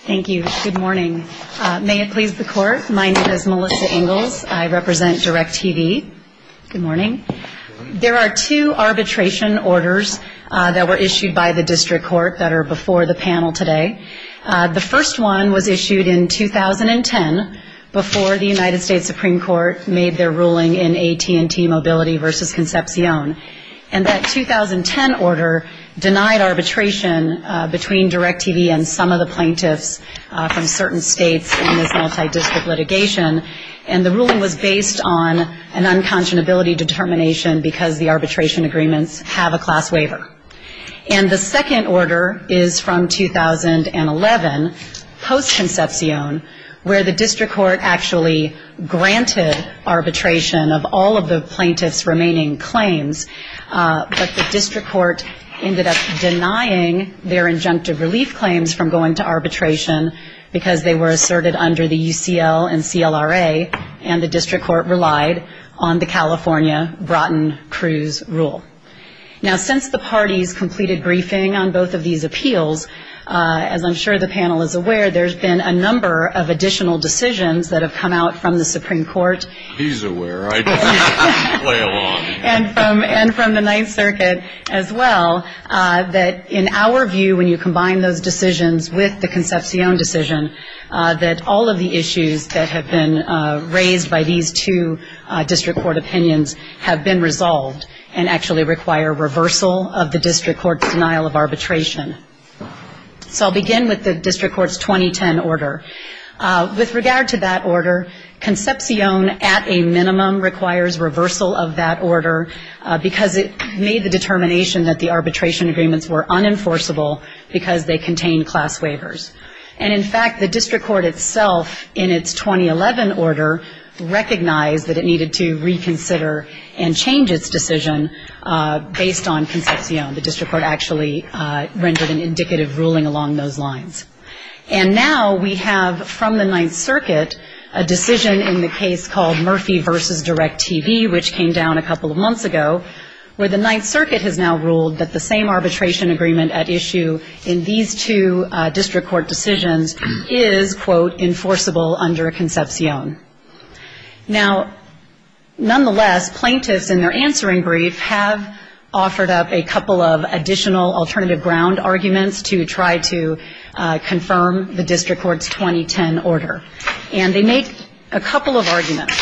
Thank you. Good morning. May it please the Court, my name is Melissa Ingalls. I represent DirecTV. Good morning. There are two arbitration orders that were issued by the District Court that are before the panel today. The first one was issued in 2010 before the United States Supreme Court made their ruling in AT&T Mobility v. Concepcion. And that 2010 order denied arbitration between DirecTV and some of the plaintiffs from certain states in this multidistrict litigation. And the ruling was based on an unconscionability determination because the arbitration agreements have a class waiver. And the second order is from 2011 post-Concepcion where the District Court actually granted arbitration of all of the plaintiffs' remaining claims. But the District Court ended up denying their injunctive relief claims from going to arbitration because they were asserted under the UCL and CLRA and the District Court relied on the California Broughton-Cruz rule. Now since the parties completed briefing on both of these appeals, as I'm sure the panel is aware, there's been a number of additional decisions that have come out from the Supreme Court. He's aware. I just play along. And from the Ninth Circuit as well, that in our view when you combine those decisions with the Concepcion decision, that all of the issues that have been raised by these two District Court opinions have been resolved and actually require reversal of the District Court's denial of arbitration. So I'll begin with the District Court's 2010 order. With regard to that order, Concepcion at a minimum requires reversal of that order because it made the determination that the arbitration agreements were unenforceable because they contained class waivers. And in fact, the District Court itself in its 2011 order recognized that it needed to reconsider and change its decision based on Concepcion. The District Court actually rendered an indicative ruling along those lines. And now we have from the Ninth Circuit a decision in the case called Murphy v. Direct TV, which came down a couple of months ago, where the Ninth Circuit has now ruled that the same arbitration agreement at issue in these two District Court decisions is, quote, enforceable under Concepcion. Now, nonetheless, plaintiffs in their answering brief have offered up a couple of additional alternative ground arguments to try to confirm the District Court's 2010 order. And they make a couple of arguments.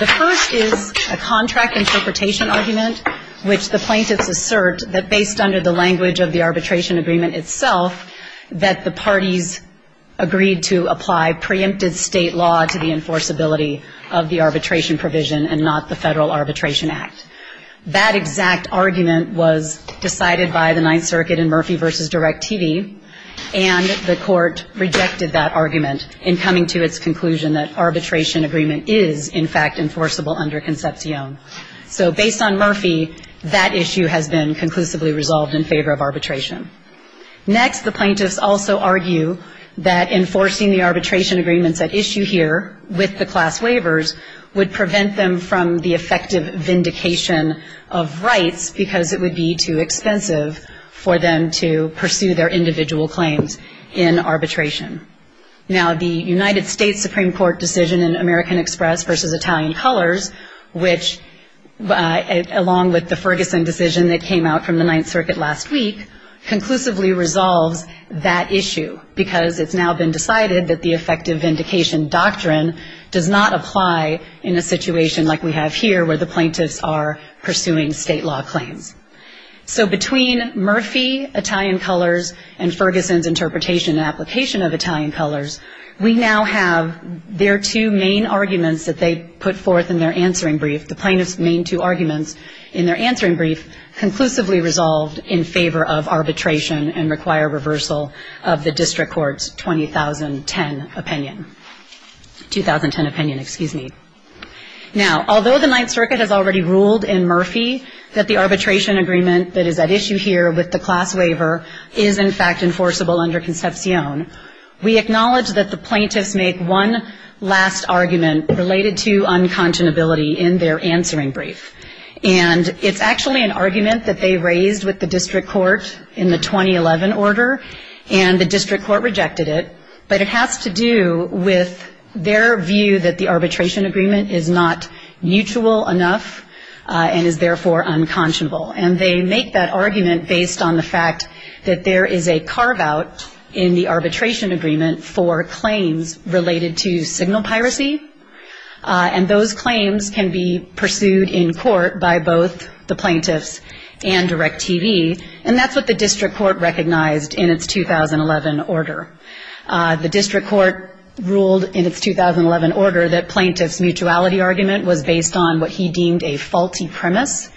The first is a contract interpretation argument, which the plaintiffs assert that based under the language of the arbitration agreement itself, that the parties agreed to apply preempted state law to the enforceability of the arbitration provision and not the Federal Arbitration Act. That exact argument was decided by the Ninth Circuit in Murphy v. Direct TV, and the Court rejected that argument in coming to its conclusion that arbitration agreement is, in fact, enforceable under Concepcion. So based on Murphy, that issue has been conclusively resolved in favor of arbitration. Next, the plaintiffs also argue that enforcing the arbitration agreements at issue here with the class waivers would prevent them from the effective vindication of rights because it would be too expensive for them to pursue their individual claims in arbitration. Now, the United States Supreme Court decision in American Express v. Italian Colors, which along with the Ferguson decision that came out from the Ninth Circuit last week, conclusively resolves that issue because it's now been decided that the effective vindication doctrine does not apply in a situation like we have here where the plaintiffs are pursuing state law claims. So between Murphy v. Italian Colors and Ferguson's interpretation and application of Italian Colors, we now have their two main arguments that they put forth in their answering brief, the plaintiffs' main two arguments in their answering brief, conclusively resolved in favor of arbitration and require reversal of the district court's 20,010 opinion. Now, although the Ninth Circuit has already ruled in Murphy that the arbitration agreement that is at issue here with the class waiver is, in fact, enforceable under Concepcion, we acknowledge that the plaintiffs make one last argument related to unconscionability in their answering brief. And it's actually an argument that they raised with the district court in the 20,011 order, and the district court rejected it, but it has to do with their view that the arbitration agreement is not mutual enough and is therefore unconscionable. And they make that argument based on the fact that there is a carve-out in the arbitration agreement for claims related to signal piracy, and those claims can be pursued in court by both the plaintiffs and DIRECTV, and that's what the district court recognized in its 20,011 order. The district court ruled in its 20,011 order that plaintiffs' mutuality argument was based on what he deemed a faulty premise,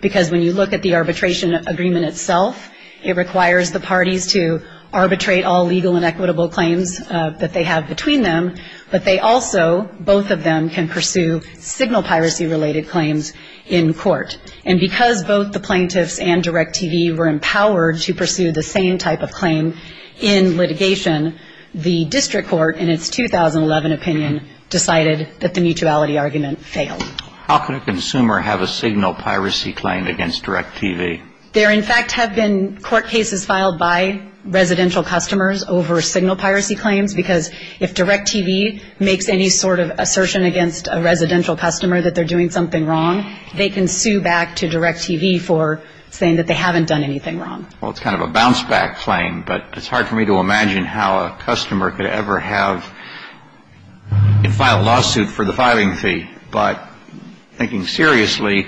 because when you look at the arbitration agreement itself, it requires the parties to arbitrate all legal and equitable claims that they have between them, but they also, both of them, can pursue signal piracy-related claims in court. And because both the plaintiffs and DIRECTV were empowered to pursue the same type of claim in litigation, the district court, in its 20,011 opinion, decided that the mutuality argument failed. How can a consumer have a signal piracy claim against DIRECTV? There in fact have been court cases filed by residential customers over signal piracy claims, because if DIRECTV makes any sort of assertion against a residential customer that they're doing something wrong, they can sue back to DIRECTV for saying that they haven't done anything wrong. Well, it's kind of a bounce-back claim, but it's hard for me to imagine how a customer could ever have a lawsuit for the filing fee. But thinking seriously,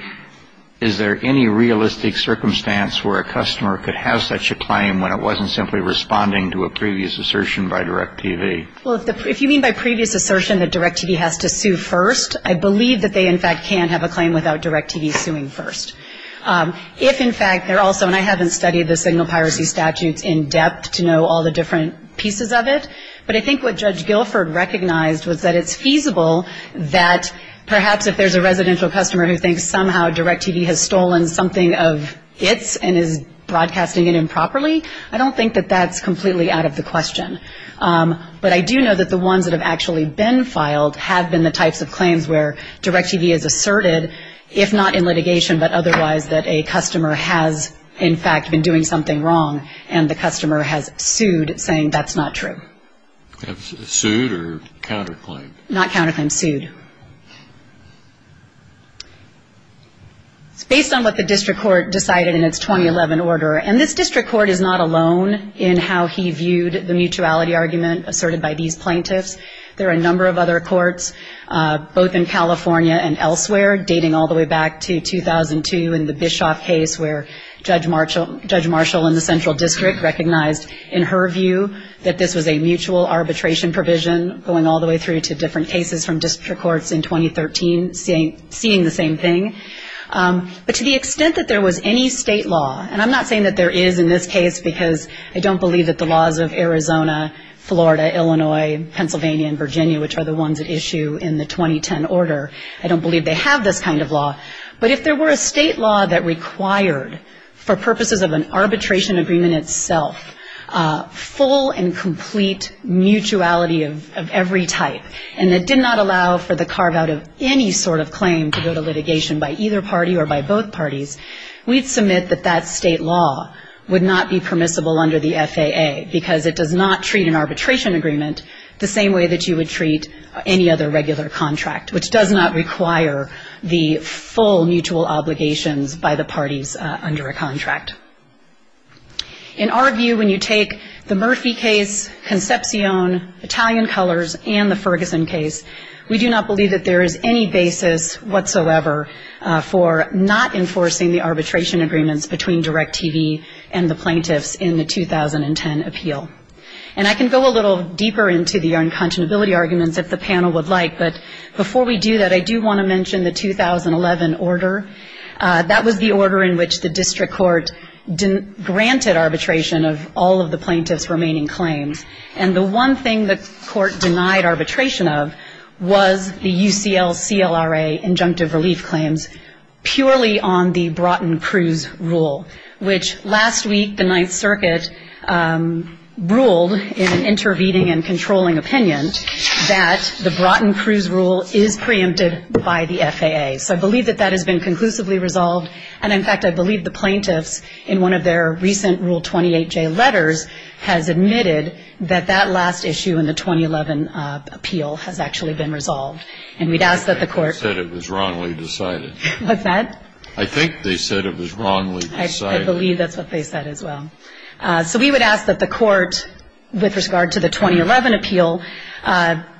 is there any realistic circumstance where a customer could have such a claim when it wasn't simply responding to a previous assertion by DIRECTV? Well, if you mean by previous assertion that DIRECTV has to sue first, I believe that they in fact can have a claim without DIRECTV suing first. If in fact they're also, and I haven't studied the signal piracy statutes in depth to know all the different pieces of it, but I think what Judge Guilford recognized was that it's feasible that perhaps if there's a residential customer who thinks somehow DIRECTV has stolen something of its and is broadcasting it improperly, I don't think that that's completely out of the question. But I do know that the ones that have actually been filed have been the types of claims where DIRECTV has asserted, if not in litigation but otherwise, that a customer has in fact been doing something wrong and the customer has sued saying that's not true. Sued or counter-claimed? Not counter-claimed, sued. It's based on what the district court decided in its 2011 order. And this district court is not alone in how he viewed the mutuality argument asserted by these plaintiffs. There are a number of other courts, both in California and elsewhere, dating all the way back to 2002 in the Bischoff case where Judge Marshall in the Central District recognized in her view that this was a mutual arbitration provision going all the way through to different cases from district courts in 2013 seeing the same thing. But to the extent that there was any state law, and I'm not saying that there is in this case, because I don't believe that the laws of Arizona, Florida, Illinois, Pennsylvania and Virginia, which are the ones at issue in the 2010 order, I don't believe they have this kind of law, but if there were a state law that required for purposes of an arbitration agreement itself full and complete mutuality of every type and that did not allow for the carve-out of any sort of claim to go to litigation by either party or by both parties, we'd submit that that state law would not be permissible under the FAA because it does not treat an arbitration agreement the same way that you would treat any other regular contract, which does not require the full mutual obligations by the parties under a contract. In our view, when you take the Murphy case, Concepcion, Italian Colors and the Ferguson case, we do not believe that there is any basis whatsoever for not enforcing the arbitration agreements between DIRECTV and the plaintiffs in the 2010 appeal. And I can go a little deeper into the unconscionability arguments if the panel would like, but before we do that, I do want to mention the 2011 order. That was the order in which the district court granted arbitration of all of the plaintiffs' remaining claims, and the one thing the court denied arbitration of was the UCL CLRA injunctive relief claims purely on the Broughton Cruz rule, which last week the Ninth Circuit ruled in an intervening and controlling opinion that the Broughton Cruz rule is preempted by the FAA. So I believe that that has been conclusively resolved, and in fact, I believe the plaintiffs in one of their recent Rule 28J letters has admitted that that last issue in the 2011 appeal has actually been resolved. And we'd ask that the court- They said it was wrongly decided. What's that? I think they said it was wrongly decided. I believe that's what they said as well. So we would ask that the court, with regard to the 2011 appeal,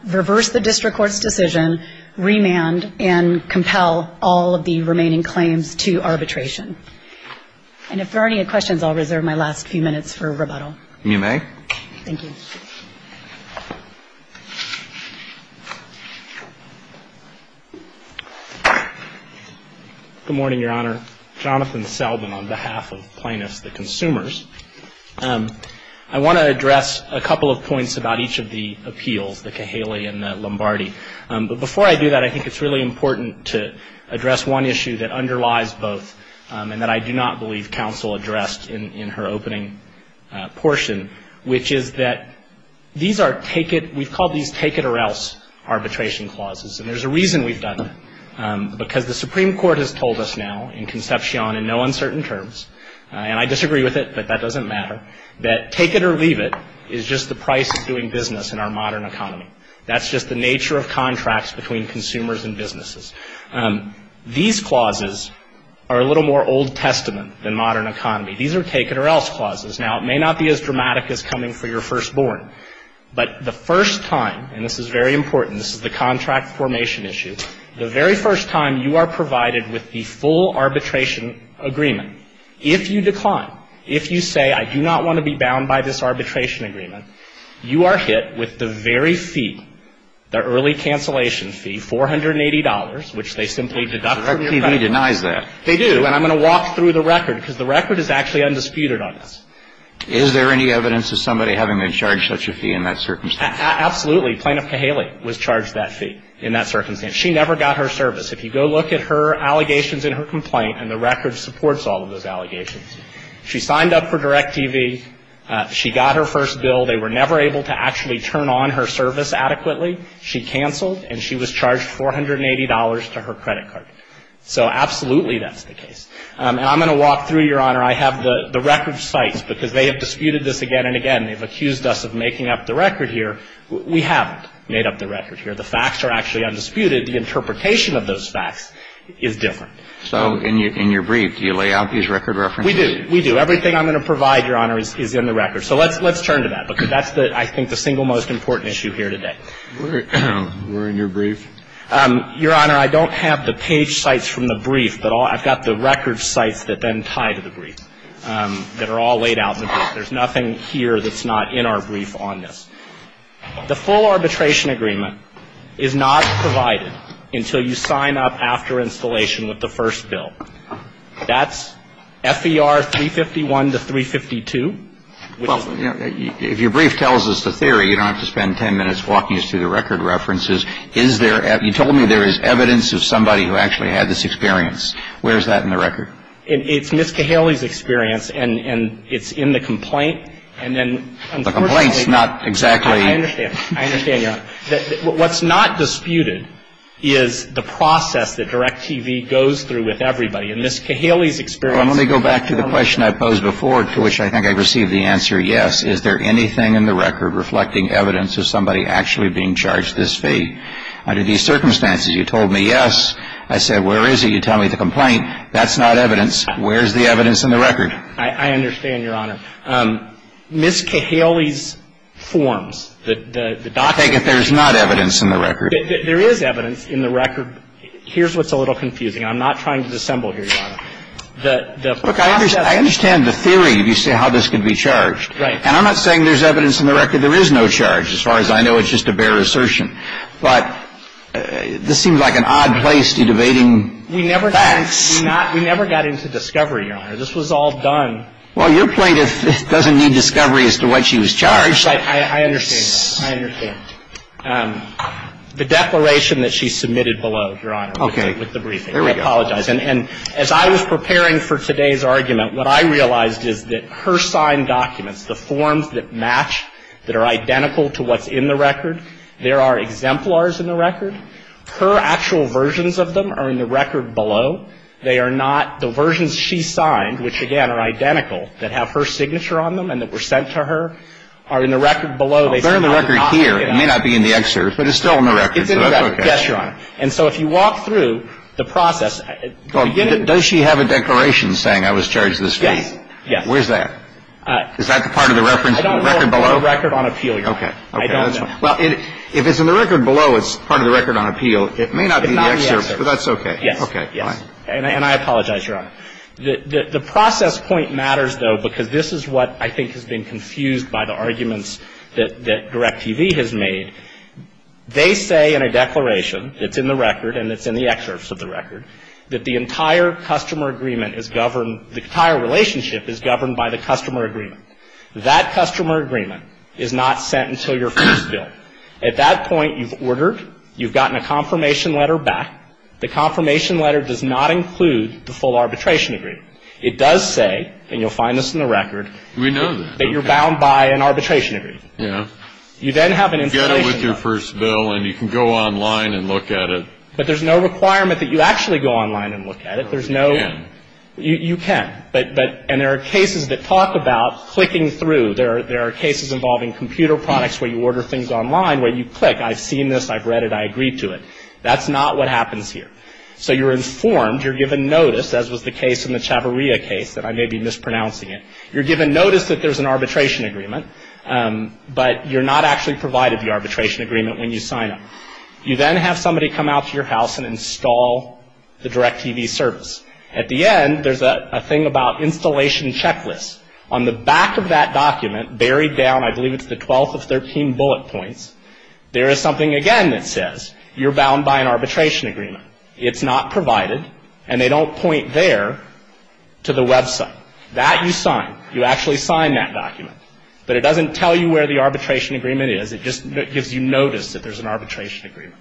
reverse the district court's decision, remand, and compel all of the remaining claims to arbitration. And if there are any questions, I'll reserve my last few minutes for rebuttal. You may. Thank you. Good morning, Your Honor. Jonathan Selden on behalf of plaintiffs, the consumers. I want to address a couple of points about each of the appeals, the Cahaley and the Lombardi. But before I do that, I think it's really important to address one issue that underlies both and that I do not believe counsel addressed in her opening portion, which is that these are take-it-we've called these take-it-or-else arbitration clauses. And there's a reason we've done that, because the Supreme Court has told us now in Concepcion in no uncertain terms, and I disagree with it, but that doesn't matter, that take-it-or-leave-it is just the price of doing business in our modern economy. That's just the nature of contracts between consumers and businesses. These clauses are a little more Old Testament than modern economy. These are take-it-or-else clauses. Now, it may not be as dramatic as coming for your firstborn, but the first time and this is very important, this is the contract formation issue, the very first time you are provided with the full arbitration agreement, if you decline, if you say, I do not want to be bound by this arbitration agreement, you are hit with the very fee, the early cancellation fee, $480, which they simply deduct from your credit. Direct TV denies that. They do. And I'm going to walk through the record, because the record is actually undisputed on this. Is there any evidence of somebody having been charged such a fee in that circumstance? Absolutely. Plaintiff Cahaley was charged that fee in that circumstance. She never got her service. If you go look at her allegations in her complaint, and the record supports all of those allegations. She signed up for Direct TV. She got her first bill. They were charged $480 to her credit card. So absolutely that's the case. And I'm going to walk through, Your Honor, I have the record sites, because they have disputed this again and again. They have accused us of making up the record here. We haven't made up the record here. The facts are actually undisputed. The interpretation of those facts is different. So in your brief, do you lay out these record references? We do. We do. Everything I'm going to provide, Your Honor, is in the record. So let's turn to that, because that's, I think, the single most important issue here today. Where in your brief? Your Honor, I don't have the page sites from the brief, but I've got the record sites that then tie to the brief that are all laid out in the brief. There's nothing here that's not in our brief on this. The full arbitration agreement is not provided until you sign up after installation with the first bill. That's FER 351 to 352. Well, if your brief tells us the theory, you don't have to spend 10 minutes walking us through the record references. Is there – you told me there is evidence of somebody who actually had this experience. Where is that in the record? It's Ms. Cahaley's experience, and it's in the complaint. And then, unfortunately The complaint's not exactly I understand. I understand, Your Honor. What's not disputed is the process that DirecTV goes through with everybody. And Ms. Cahaley's experience Well, let me go back to the question I posed before, to which I think I received the answer yes. Is there anything in the record reflecting evidence of somebody actually being charged this fee? Under these circumstances, you told me yes. I said where is it? You tell me the complaint. That's not evidence. Where's the evidence in the record? I understand, Your Honor. Ms. Cahaley's forms, the documents I take it there's not evidence in the record. There is evidence in the record. Here's what's a little confusing. I'm not trying to dissemble here, Your Honor. The process Look, I understand the theory if you say how this could be charged. Right. And I'm not saying there's evidence in the record. There is no charge, as far as I know. It's just a bare assertion. But this seems like an odd place to be debating facts. We never got into discovery, Your Honor. This was all done Well, your plaintiff doesn't need discovery as to what she was charged I understand. I understand. The declaration that she submitted below, Your Honor Okay. With the briefing. I apologize. And as I was preparing for today's argument, what I realized is that her signed documents, the forms that match, that are identical to what's in the record, there are exemplars in the record. Her actual versions of them are in the record below. They are not the versions she signed, which again are identical, that have her signature on them and that were sent to her, are in the record below. If they're in the record here, it may not be in the excerpt, but it's still in the record. Yes, Your Honor. And so if you walk through the process Does she have a declaration saying I was charged this way? Yes. Where's that? Is that the part of the reference in the record below? I don't know of a record on appeal, Your Honor. Okay. Well, if it's in the record below, it's part of the record on appeal. It may not be in the excerpt, but that's okay. Yes. Okay. Fine. And I apologize, Your Honor. The process point matters, though, because this is what I think has been confused by the arguments that Direct TV has made. They say in a declaration, it's in the record and it's in the excerpts of the record, that the entire customer agreement is governed, the entire relationship is governed by the customer agreement. That customer agreement is not sent until your first bill. At that point, you've ordered, you've gotten a confirmation letter back. The confirmation letter does not include the full arbitration agreement. It does say, and you'll find this in the record. We know that. That you're bound by an arbitration agreement. Yes. You then have an installation. You get it with your first bill and you can go online and look at it. But there's no requirement that you actually go online and look at it. No, you can't. You can't. And there are cases that talk about clicking through. There are cases involving computer products where you order things online where you click, I've seen this, I've read it, I agree to it. That's not what happens here. So you're mispronouncing it. You're given notice that there's an arbitration agreement, but you're not actually provided the arbitration agreement when you sign up. You then have somebody come out to your house and install the DirecTV service. At the end, there's a thing about installation checklists. On the back of that document, buried down, I believe it's the 12th of 13 bullet points, there is something again that says, you're bound by an arbitration agreement. It's not provided and they don't point there to the website. That you sign. You actually sign that document. But it doesn't tell you where the arbitration agreement is. It just gives you notice that there's an arbitration agreement.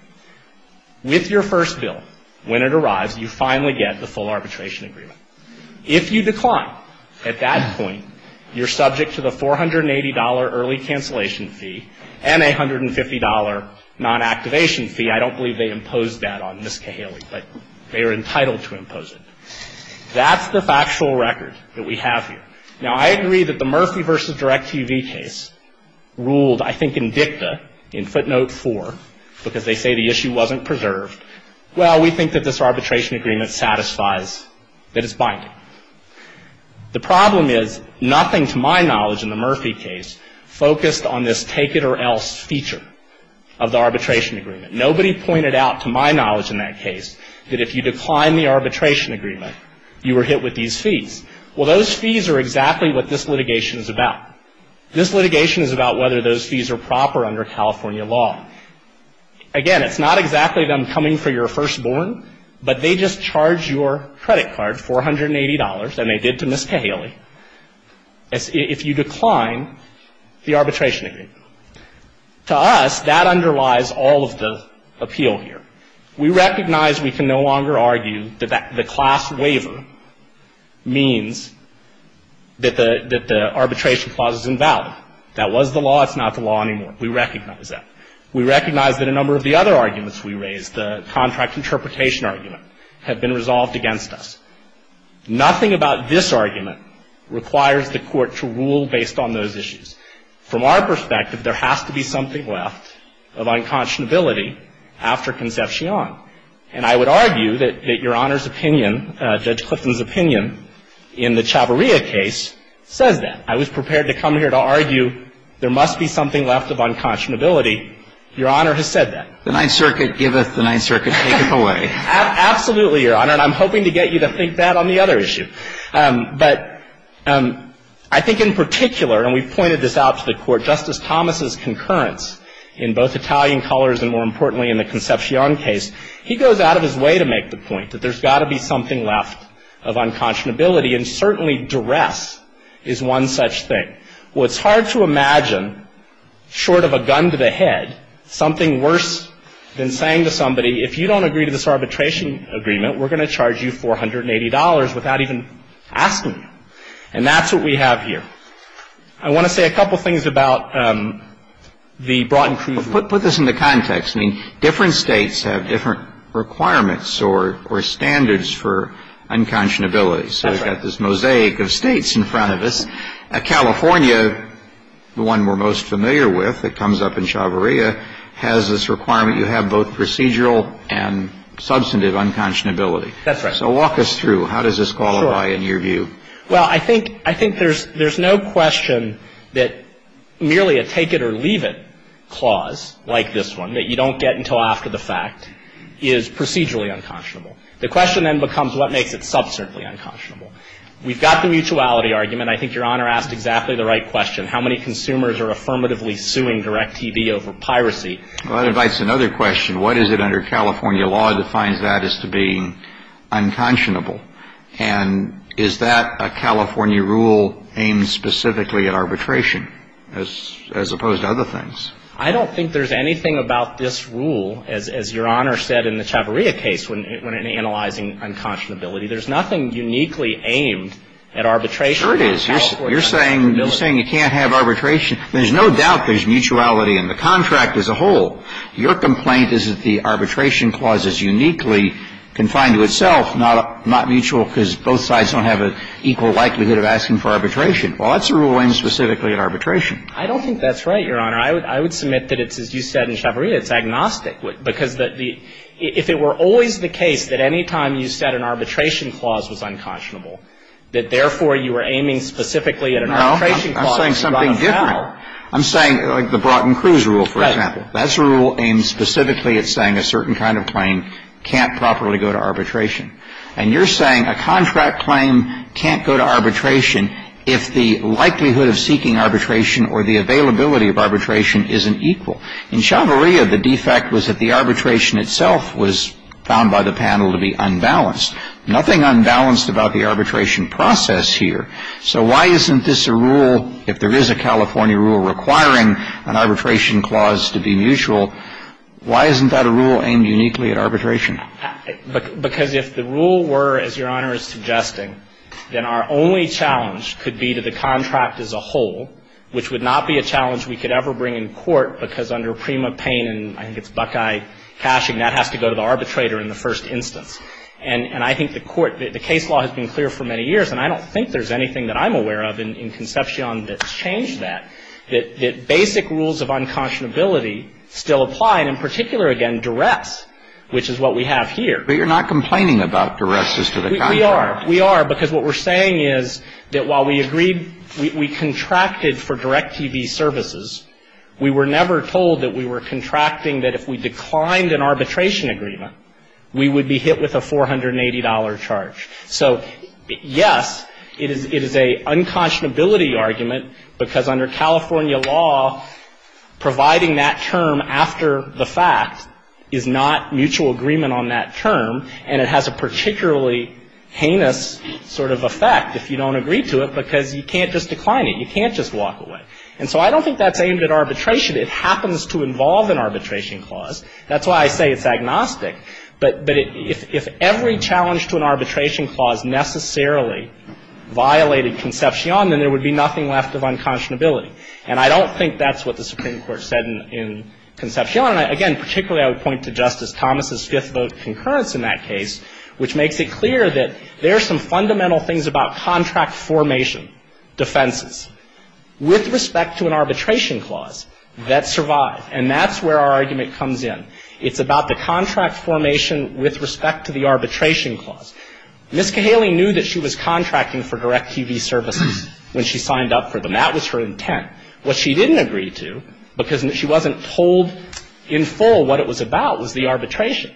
With your first bill, when it arrives, you finally get the full arbitration agreement. If you decline at that point, you're subject to the $480 early cancellation fee and a $150 non-activation fee. I don't believe they imposed that on Ms. Murphy. They are entitled to impose it. That's the factual record that we have here. Now, I agree that the Murphy v. DirecTV case ruled, I think, in dicta, in footnote 4, because they say the issue wasn't preserved. Well, we think that this arbitration agreement satisfies that it's binding. The problem is, nothing to my knowledge in the Murphy case focused on this take it or else feature of the arbitration agreement. Nobody pointed out, to my knowledge in that case, that if you decline the arbitration agreement, you were hit with these fees. Well, those fees are exactly what this litigation is about. This litigation is about whether those fees are proper under California law. Again, it's not exactly them coming for your firstborn, but they just charge your credit card $480, and they did to Ms. Cahaley, if you decline the arbitration agreement. To us, that underlies all of the appeal here. We recognize we can no longer argue that the class waiver means that the arbitration clause is invalid. That was the law. It's not the law anymore. We recognize that. We recognize that a number of the other arguments we raised, the contract interpretation argument, have been resolved against us. Nothing about this argument requires the Court to rule based on those issues. From our perspective, there has to be something left of unconscionability after Concepcion. And I would argue that Your Honor's opinion, Judge Clifton's opinion, in the Chavarria case says that. I was prepared to come here to argue there must be something left of unconscionability. Your Honor has said that. The Ninth Circuit giveth, the Ninth Circuit taketh away. Absolutely, Your Honor. And I'm hoping to get you to think that on the other issue. But I think in particular, and we've pointed this out to the Court, Justice Thomas's concurrence in both Italian colors and, more importantly, in the Concepcion case, he goes out of his way to make the point that there's got to be something left of unconscionability. And certainly, duress is one such thing. Well, it's hard to imagine, short of a gun to the head, something worse than saying to somebody, if you don't agree to this arbitration agreement, we're going to charge you $480 without even asking you. And that's what we have here. I want to say a couple things about the brought-and-proved rule. Well, put this into context. I mean, different states have different requirements or standards for unconscionability. That's right. So we've got this mosaic of states in front of us. California, the one we're most familiar with that comes up in Chavarria, has this requirement you have both procedural and substantive unconscionability. That's right. So walk us through. Sure. How does this qualify in your view? Well, I think there's no question that merely a take-it-or-leave-it clause like this one, that you don't get until after the fact, is procedurally unconscionable. The question then becomes what makes it sub-certainly unconscionable. We've got the mutuality argument. I think Your Honor asked exactly the right question, how many consumers are affirmatively suing DirecTV over piracy. Well, that invites another question. What is it under California law that finds that as to be unconscionable? And is that a California rule aimed specifically at arbitration as opposed to other things? I don't think there's anything about this rule, as Your Honor said in the Chavarria case when analyzing unconscionability. There's nothing uniquely aimed at arbitration. Sure it is. You're saying you can't have arbitration. There's no doubt there's mutuality in the contract as a whole. Your complaint is that the arbitration clause is uniquely confined to itself, not mutual, because both sides don't have an equal likelihood of asking for arbitration. Well, that's a rule aimed specifically at arbitration. I don't think that's right, Your Honor. I would submit that it's, as you said in Chavarria, it's agnostic, because if it were always the case that any time you said an arbitration clause was unconscionable, that therefore you were aiming specifically at an arbitration clause, you got a foul. No, I'm saying something different. That's a rule aimed specifically at saying a certain kind of claim can't properly go to arbitration. And you're saying a contract claim can't go to arbitration if the likelihood of seeking arbitration or the availability of arbitration isn't equal. In Chavarria, the defect was that the arbitration itself was found by the panel to be unbalanced. Nothing unbalanced about the arbitration process here. So why isn't this a rule, if there is a California rule requiring an arbitration clause to be mutual, why isn't that a rule aimed uniquely at arbitration? Because if the rule were, as Your Honor is suggesting, then our only challenge could be to the contract as a whole, which would not be a challenge we could ever bring in court, because under Prima Payne, and I think it's Buckeye cashing, that has to go to the arbitrator in the first instance. And I think the court, the case law has been clear for many years, and I don't think there's anything that I'm aware of in Concepcion that's changed that, that basic rules of unconscionability still apply, and in particular, again, duress, which is what we have here. But you're not complaining about duress as to the contract. We are. We are, because what we're saying is that while we agreed, we contracted for direct TV services, we were never told that we were contracting that if we declined an arbitration agreement, we would be hit with a $480 charge. So, yes, it is a unconscionability argument, because under California law, providing that term after the fact is not mutual agreement on that term, and it has a particularly heinous sort of effect if you don't agree to it, because you can't just decline it. You can't just walk away. And so I don't think that's aimed at arbitration. It happens to involve an arbitration clause. That's why I say it's agnostic. But if every challenge to an arbitration clause necessarily violated Concepcion, then there would be nothing left of unconscionability. And I don't think that's what the Supreme Court said in Concepcion. And, again, particularly I would point to Justice Thomas's fifth vote concurrence in that case, which makes it clear that there are some fundamental things about contract formation defenses with respect to an arbitration clause that survive, and that's where our argument comes in. It's about the contract formation with respect to the arbitration clause. Ms. Cahaley knew that she was contracting for direct TV services when she signed up for them. That was her intent. What she didn't agree to, because she wasn't told in full what it was about, was the arbitration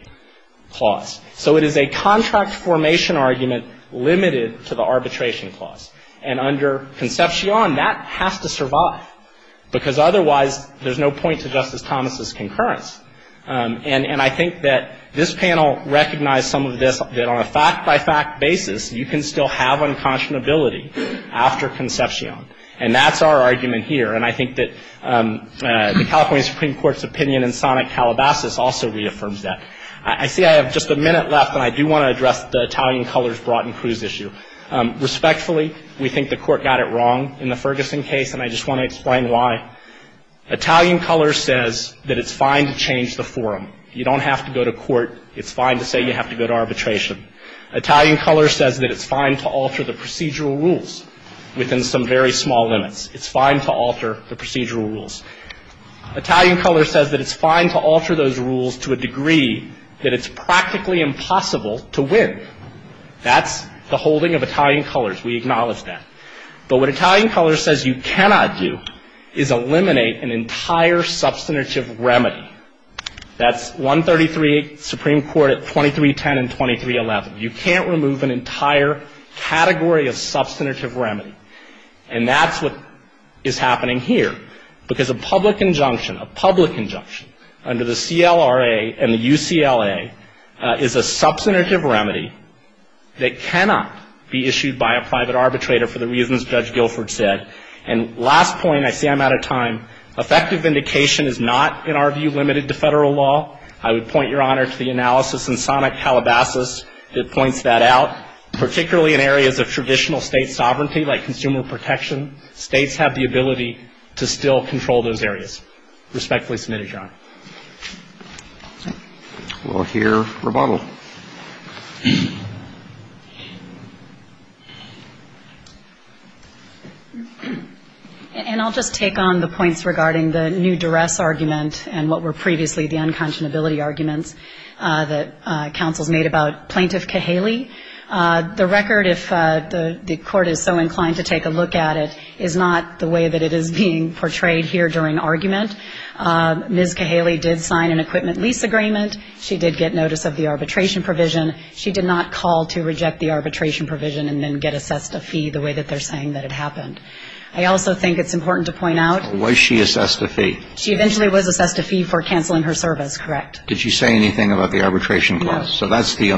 clause. So it is a contract formation argument limited to the arbitration clause. And under Concepcion, that has to survive, because otherwise there's no point to Justice Thomas's concurrence. And I think that this panel recognized some of this, that on a fact-by-fact basis, you can still have unconscionability after Concepcion. And that's our argument here. And I think that the California Supreme Court's opinion in Sonic Calabasas also reaffirms that. I see I have just a minute left, and I do want to address the Italian colors brought in Cruz issue. Respectfully, we think the Court got it wrong in the Ferguson case, and I just want to explain why. Italian color says that it's fine to change the forum. You don't have to go to court. It's fine to say you have to go to arbitration. Italian color says that it's fine to alter the procedural rules within some very small limits. It's fine to alter the procedural rules. Italian color says that it's fine to alter those rules to a degree that it's practically impossible to win. That's the holding of Italian colors. We acknowledge that. But what Italian color says you cannot do is eliminate an entire substantive remedy. That's 133, Supreme Court at 2310 and 2311. You can't remove an entire category of substantive remedy. And that's what is happening here. Because a public injunction, a public injunction under the CLRA and the UCLA is a And last point, I see I'm out of time. Effective vindication is not, in our view, limited to Federal law. I would point Your Honor to the analysis in Sonic Calabasas that points that out. Particularly in areas of traditional State sovereignty like consumer protection, States have the ability to still control those areas. Respectfully submitted, Your Honor. We'll hear rebuttal. And I'll just take on the points regarding the new duress argument and what were previously the unconscionability arguments that counsels made about Plaintiff Kahaley. The record, if the Court is so inclined to take a look at it, is not the way that it is being portrayed here during argument. Ms. Kahaley did sign an equipment lease agreement. She did get notice of the arbitration provision. She did not call to reject the arbitration provision and then get assessed a fee the way that they're saying that it happened. I also think it's important to point out. Was she assessed a fee? She eventually was assessed a fee for canceling her service, correct. Did she say anything about the arbitration clause? No. So that's the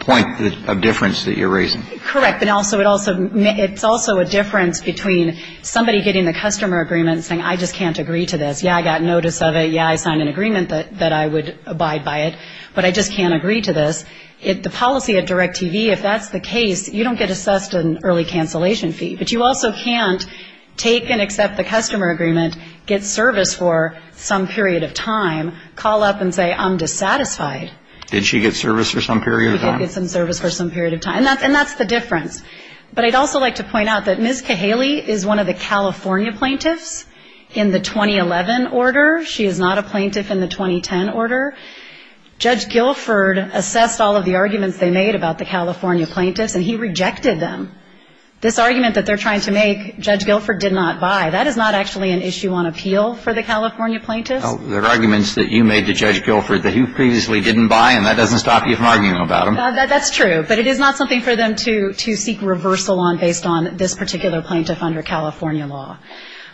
point of difference that you're raising. Correct. But it's also a difference between somebody getting the customer agreement and saying, I just can't agree to this. Yeah, I got notice of it. Yeah, I signed an agreement that I would abide by it. But I just can't agree to this. The policy at DirecTV, if that's the case, you don't get assessed an early cancellation fee. But you also can't take and accept the customer agreement, get service for some period of time, call up and say, I'm dissatisfied. Did she get service for some period of time? She did get some service for some period of time. And that's the difference. But I'd also like to point out that Ms. Kahaley is one of the California plaintiffs in the 2011 order. She is not a plaintiff in the 2010 order. Judge Guilford assessed all of the arguments they made about the California plaintiffs, and he rejected them. This argument that they're trying to make, Judge Guilford did not buy, that is not actually an issue on appeal for the California plaintiffs. There are arguments that you made to Judge Guilford that you previously didn't buy, and that doesn't stop you from arguing about them. That's true. But it is not something for them to seek reversal on based on this particular plaintiff under California law.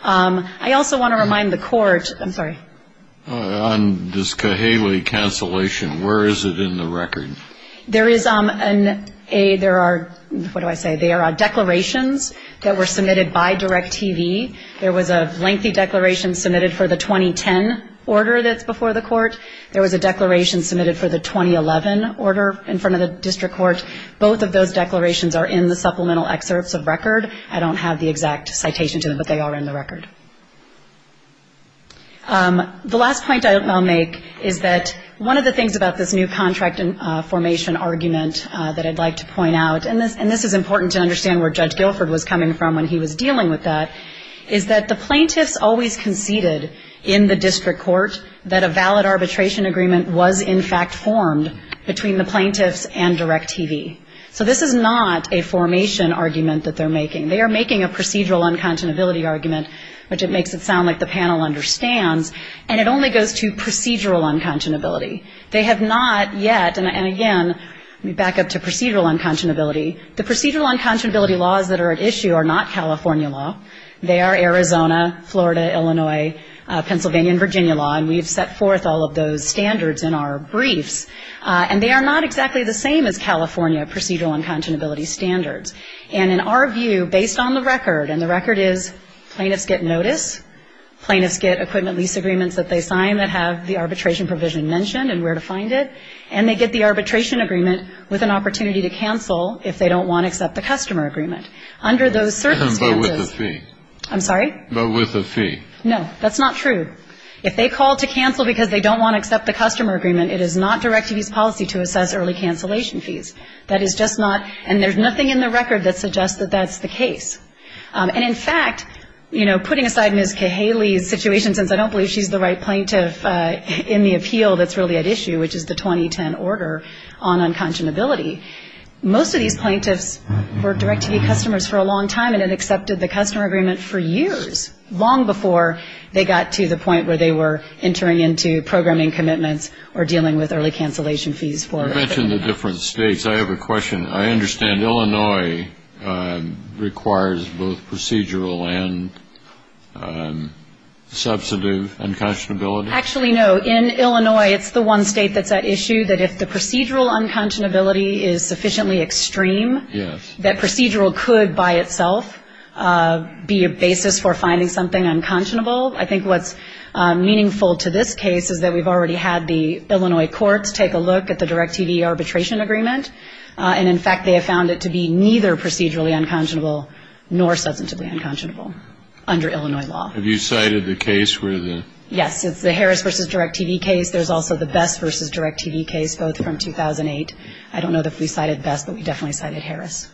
I also want to remind the court – I'm sorry. On this Kahaley cancellation, where is it in the record? There is a – there are – what do I say? There are declarations that were submitted by DIRECTV. There was a lengthy declaration submitted for the 2010 order that's before the court. There was a declaration submitted for the 2011 order in front of the district court. Both of those declarations are in the supplemental excerpts of record. I don't have the exact citation to them, but they are in the record. The last point I'll make is that one of the things about this new contract formation argument that I'd like to point out, and this is important to understand where Judge Guilford was coming from when he was dealing with that, is that the plaintiffs always conceded in the district court that a valid arbitration agreement was in fact formed between the plaintiffs and DIRECTV. So this is not a formation argument that they're making. They are making a procedural unconscionability argument, which it makes it sound like the panel understands, and it only goes to procedural unconscionability. They have not yet – and again, back up to procedural unconscionability. The procedural unconscionability laws that are at issue are not California law. They are Arizona, Florida, Illinois, Pennsylvania, and Virginia law, and we have set forth all of those standards in our briefs. And they are not exactly the same as California procedural unconscionability standards. And in our view, based on the record, and the record is plaintiffs get notice, plaintiffs get equipment lease agreements that they sign that have the arbitration provision mentioned and where to find it, and they get the arbitration agreement with an opportunity to cancel if they don't want to accept the customer agreement. Under those circumstances – But with a fee. I'm sorry? But with a fee. No. That's not true. If they call to cancel because they don't want to accept the customer agreement, it is not DIRECTV's policy to assess early cancellation fees. That is just not – and there's nothing in the record that suggests that that's the case. And in fact, you know, putting aside Ms. Kahaley's situation, since I don't believe she's the right plaintiff in the appeal that's really at issue, which is the 2010 order on unconscionability, most of these plaintiffs were DIRECTV customers for a long time and had accepted the customer agreement for years, long before they got to the point where they were entering into programming commitments or dealing with early cancellation fees for – You mentioned the different states. I have a question. I understand Illinois requires both procedural and substantive unconscionability? Actually, no. In Illinois, it's the one state that's at issue that if the procedural unconscionability is sufficiently extreme that procedural could by itself be a basis for finding something unconscionable. I think what's meaningful to this case is that we've already had the Illinois courts take a look at the DIRECTV arbitration agreement, and in fact they have found it to be neither procedurally unconscionable nor substantively unconscionable under Illinois law. Have you cited the case where the – Yes, it's the Harris v. DIRECTV case. There's also the Best v. DIRECTV case, both from 2008. I don't know that we cited Best, but we definitely cited Harris.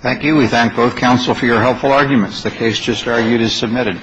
Thank you. We thank both counsel for your helpful arguments. The case just argued is submitted.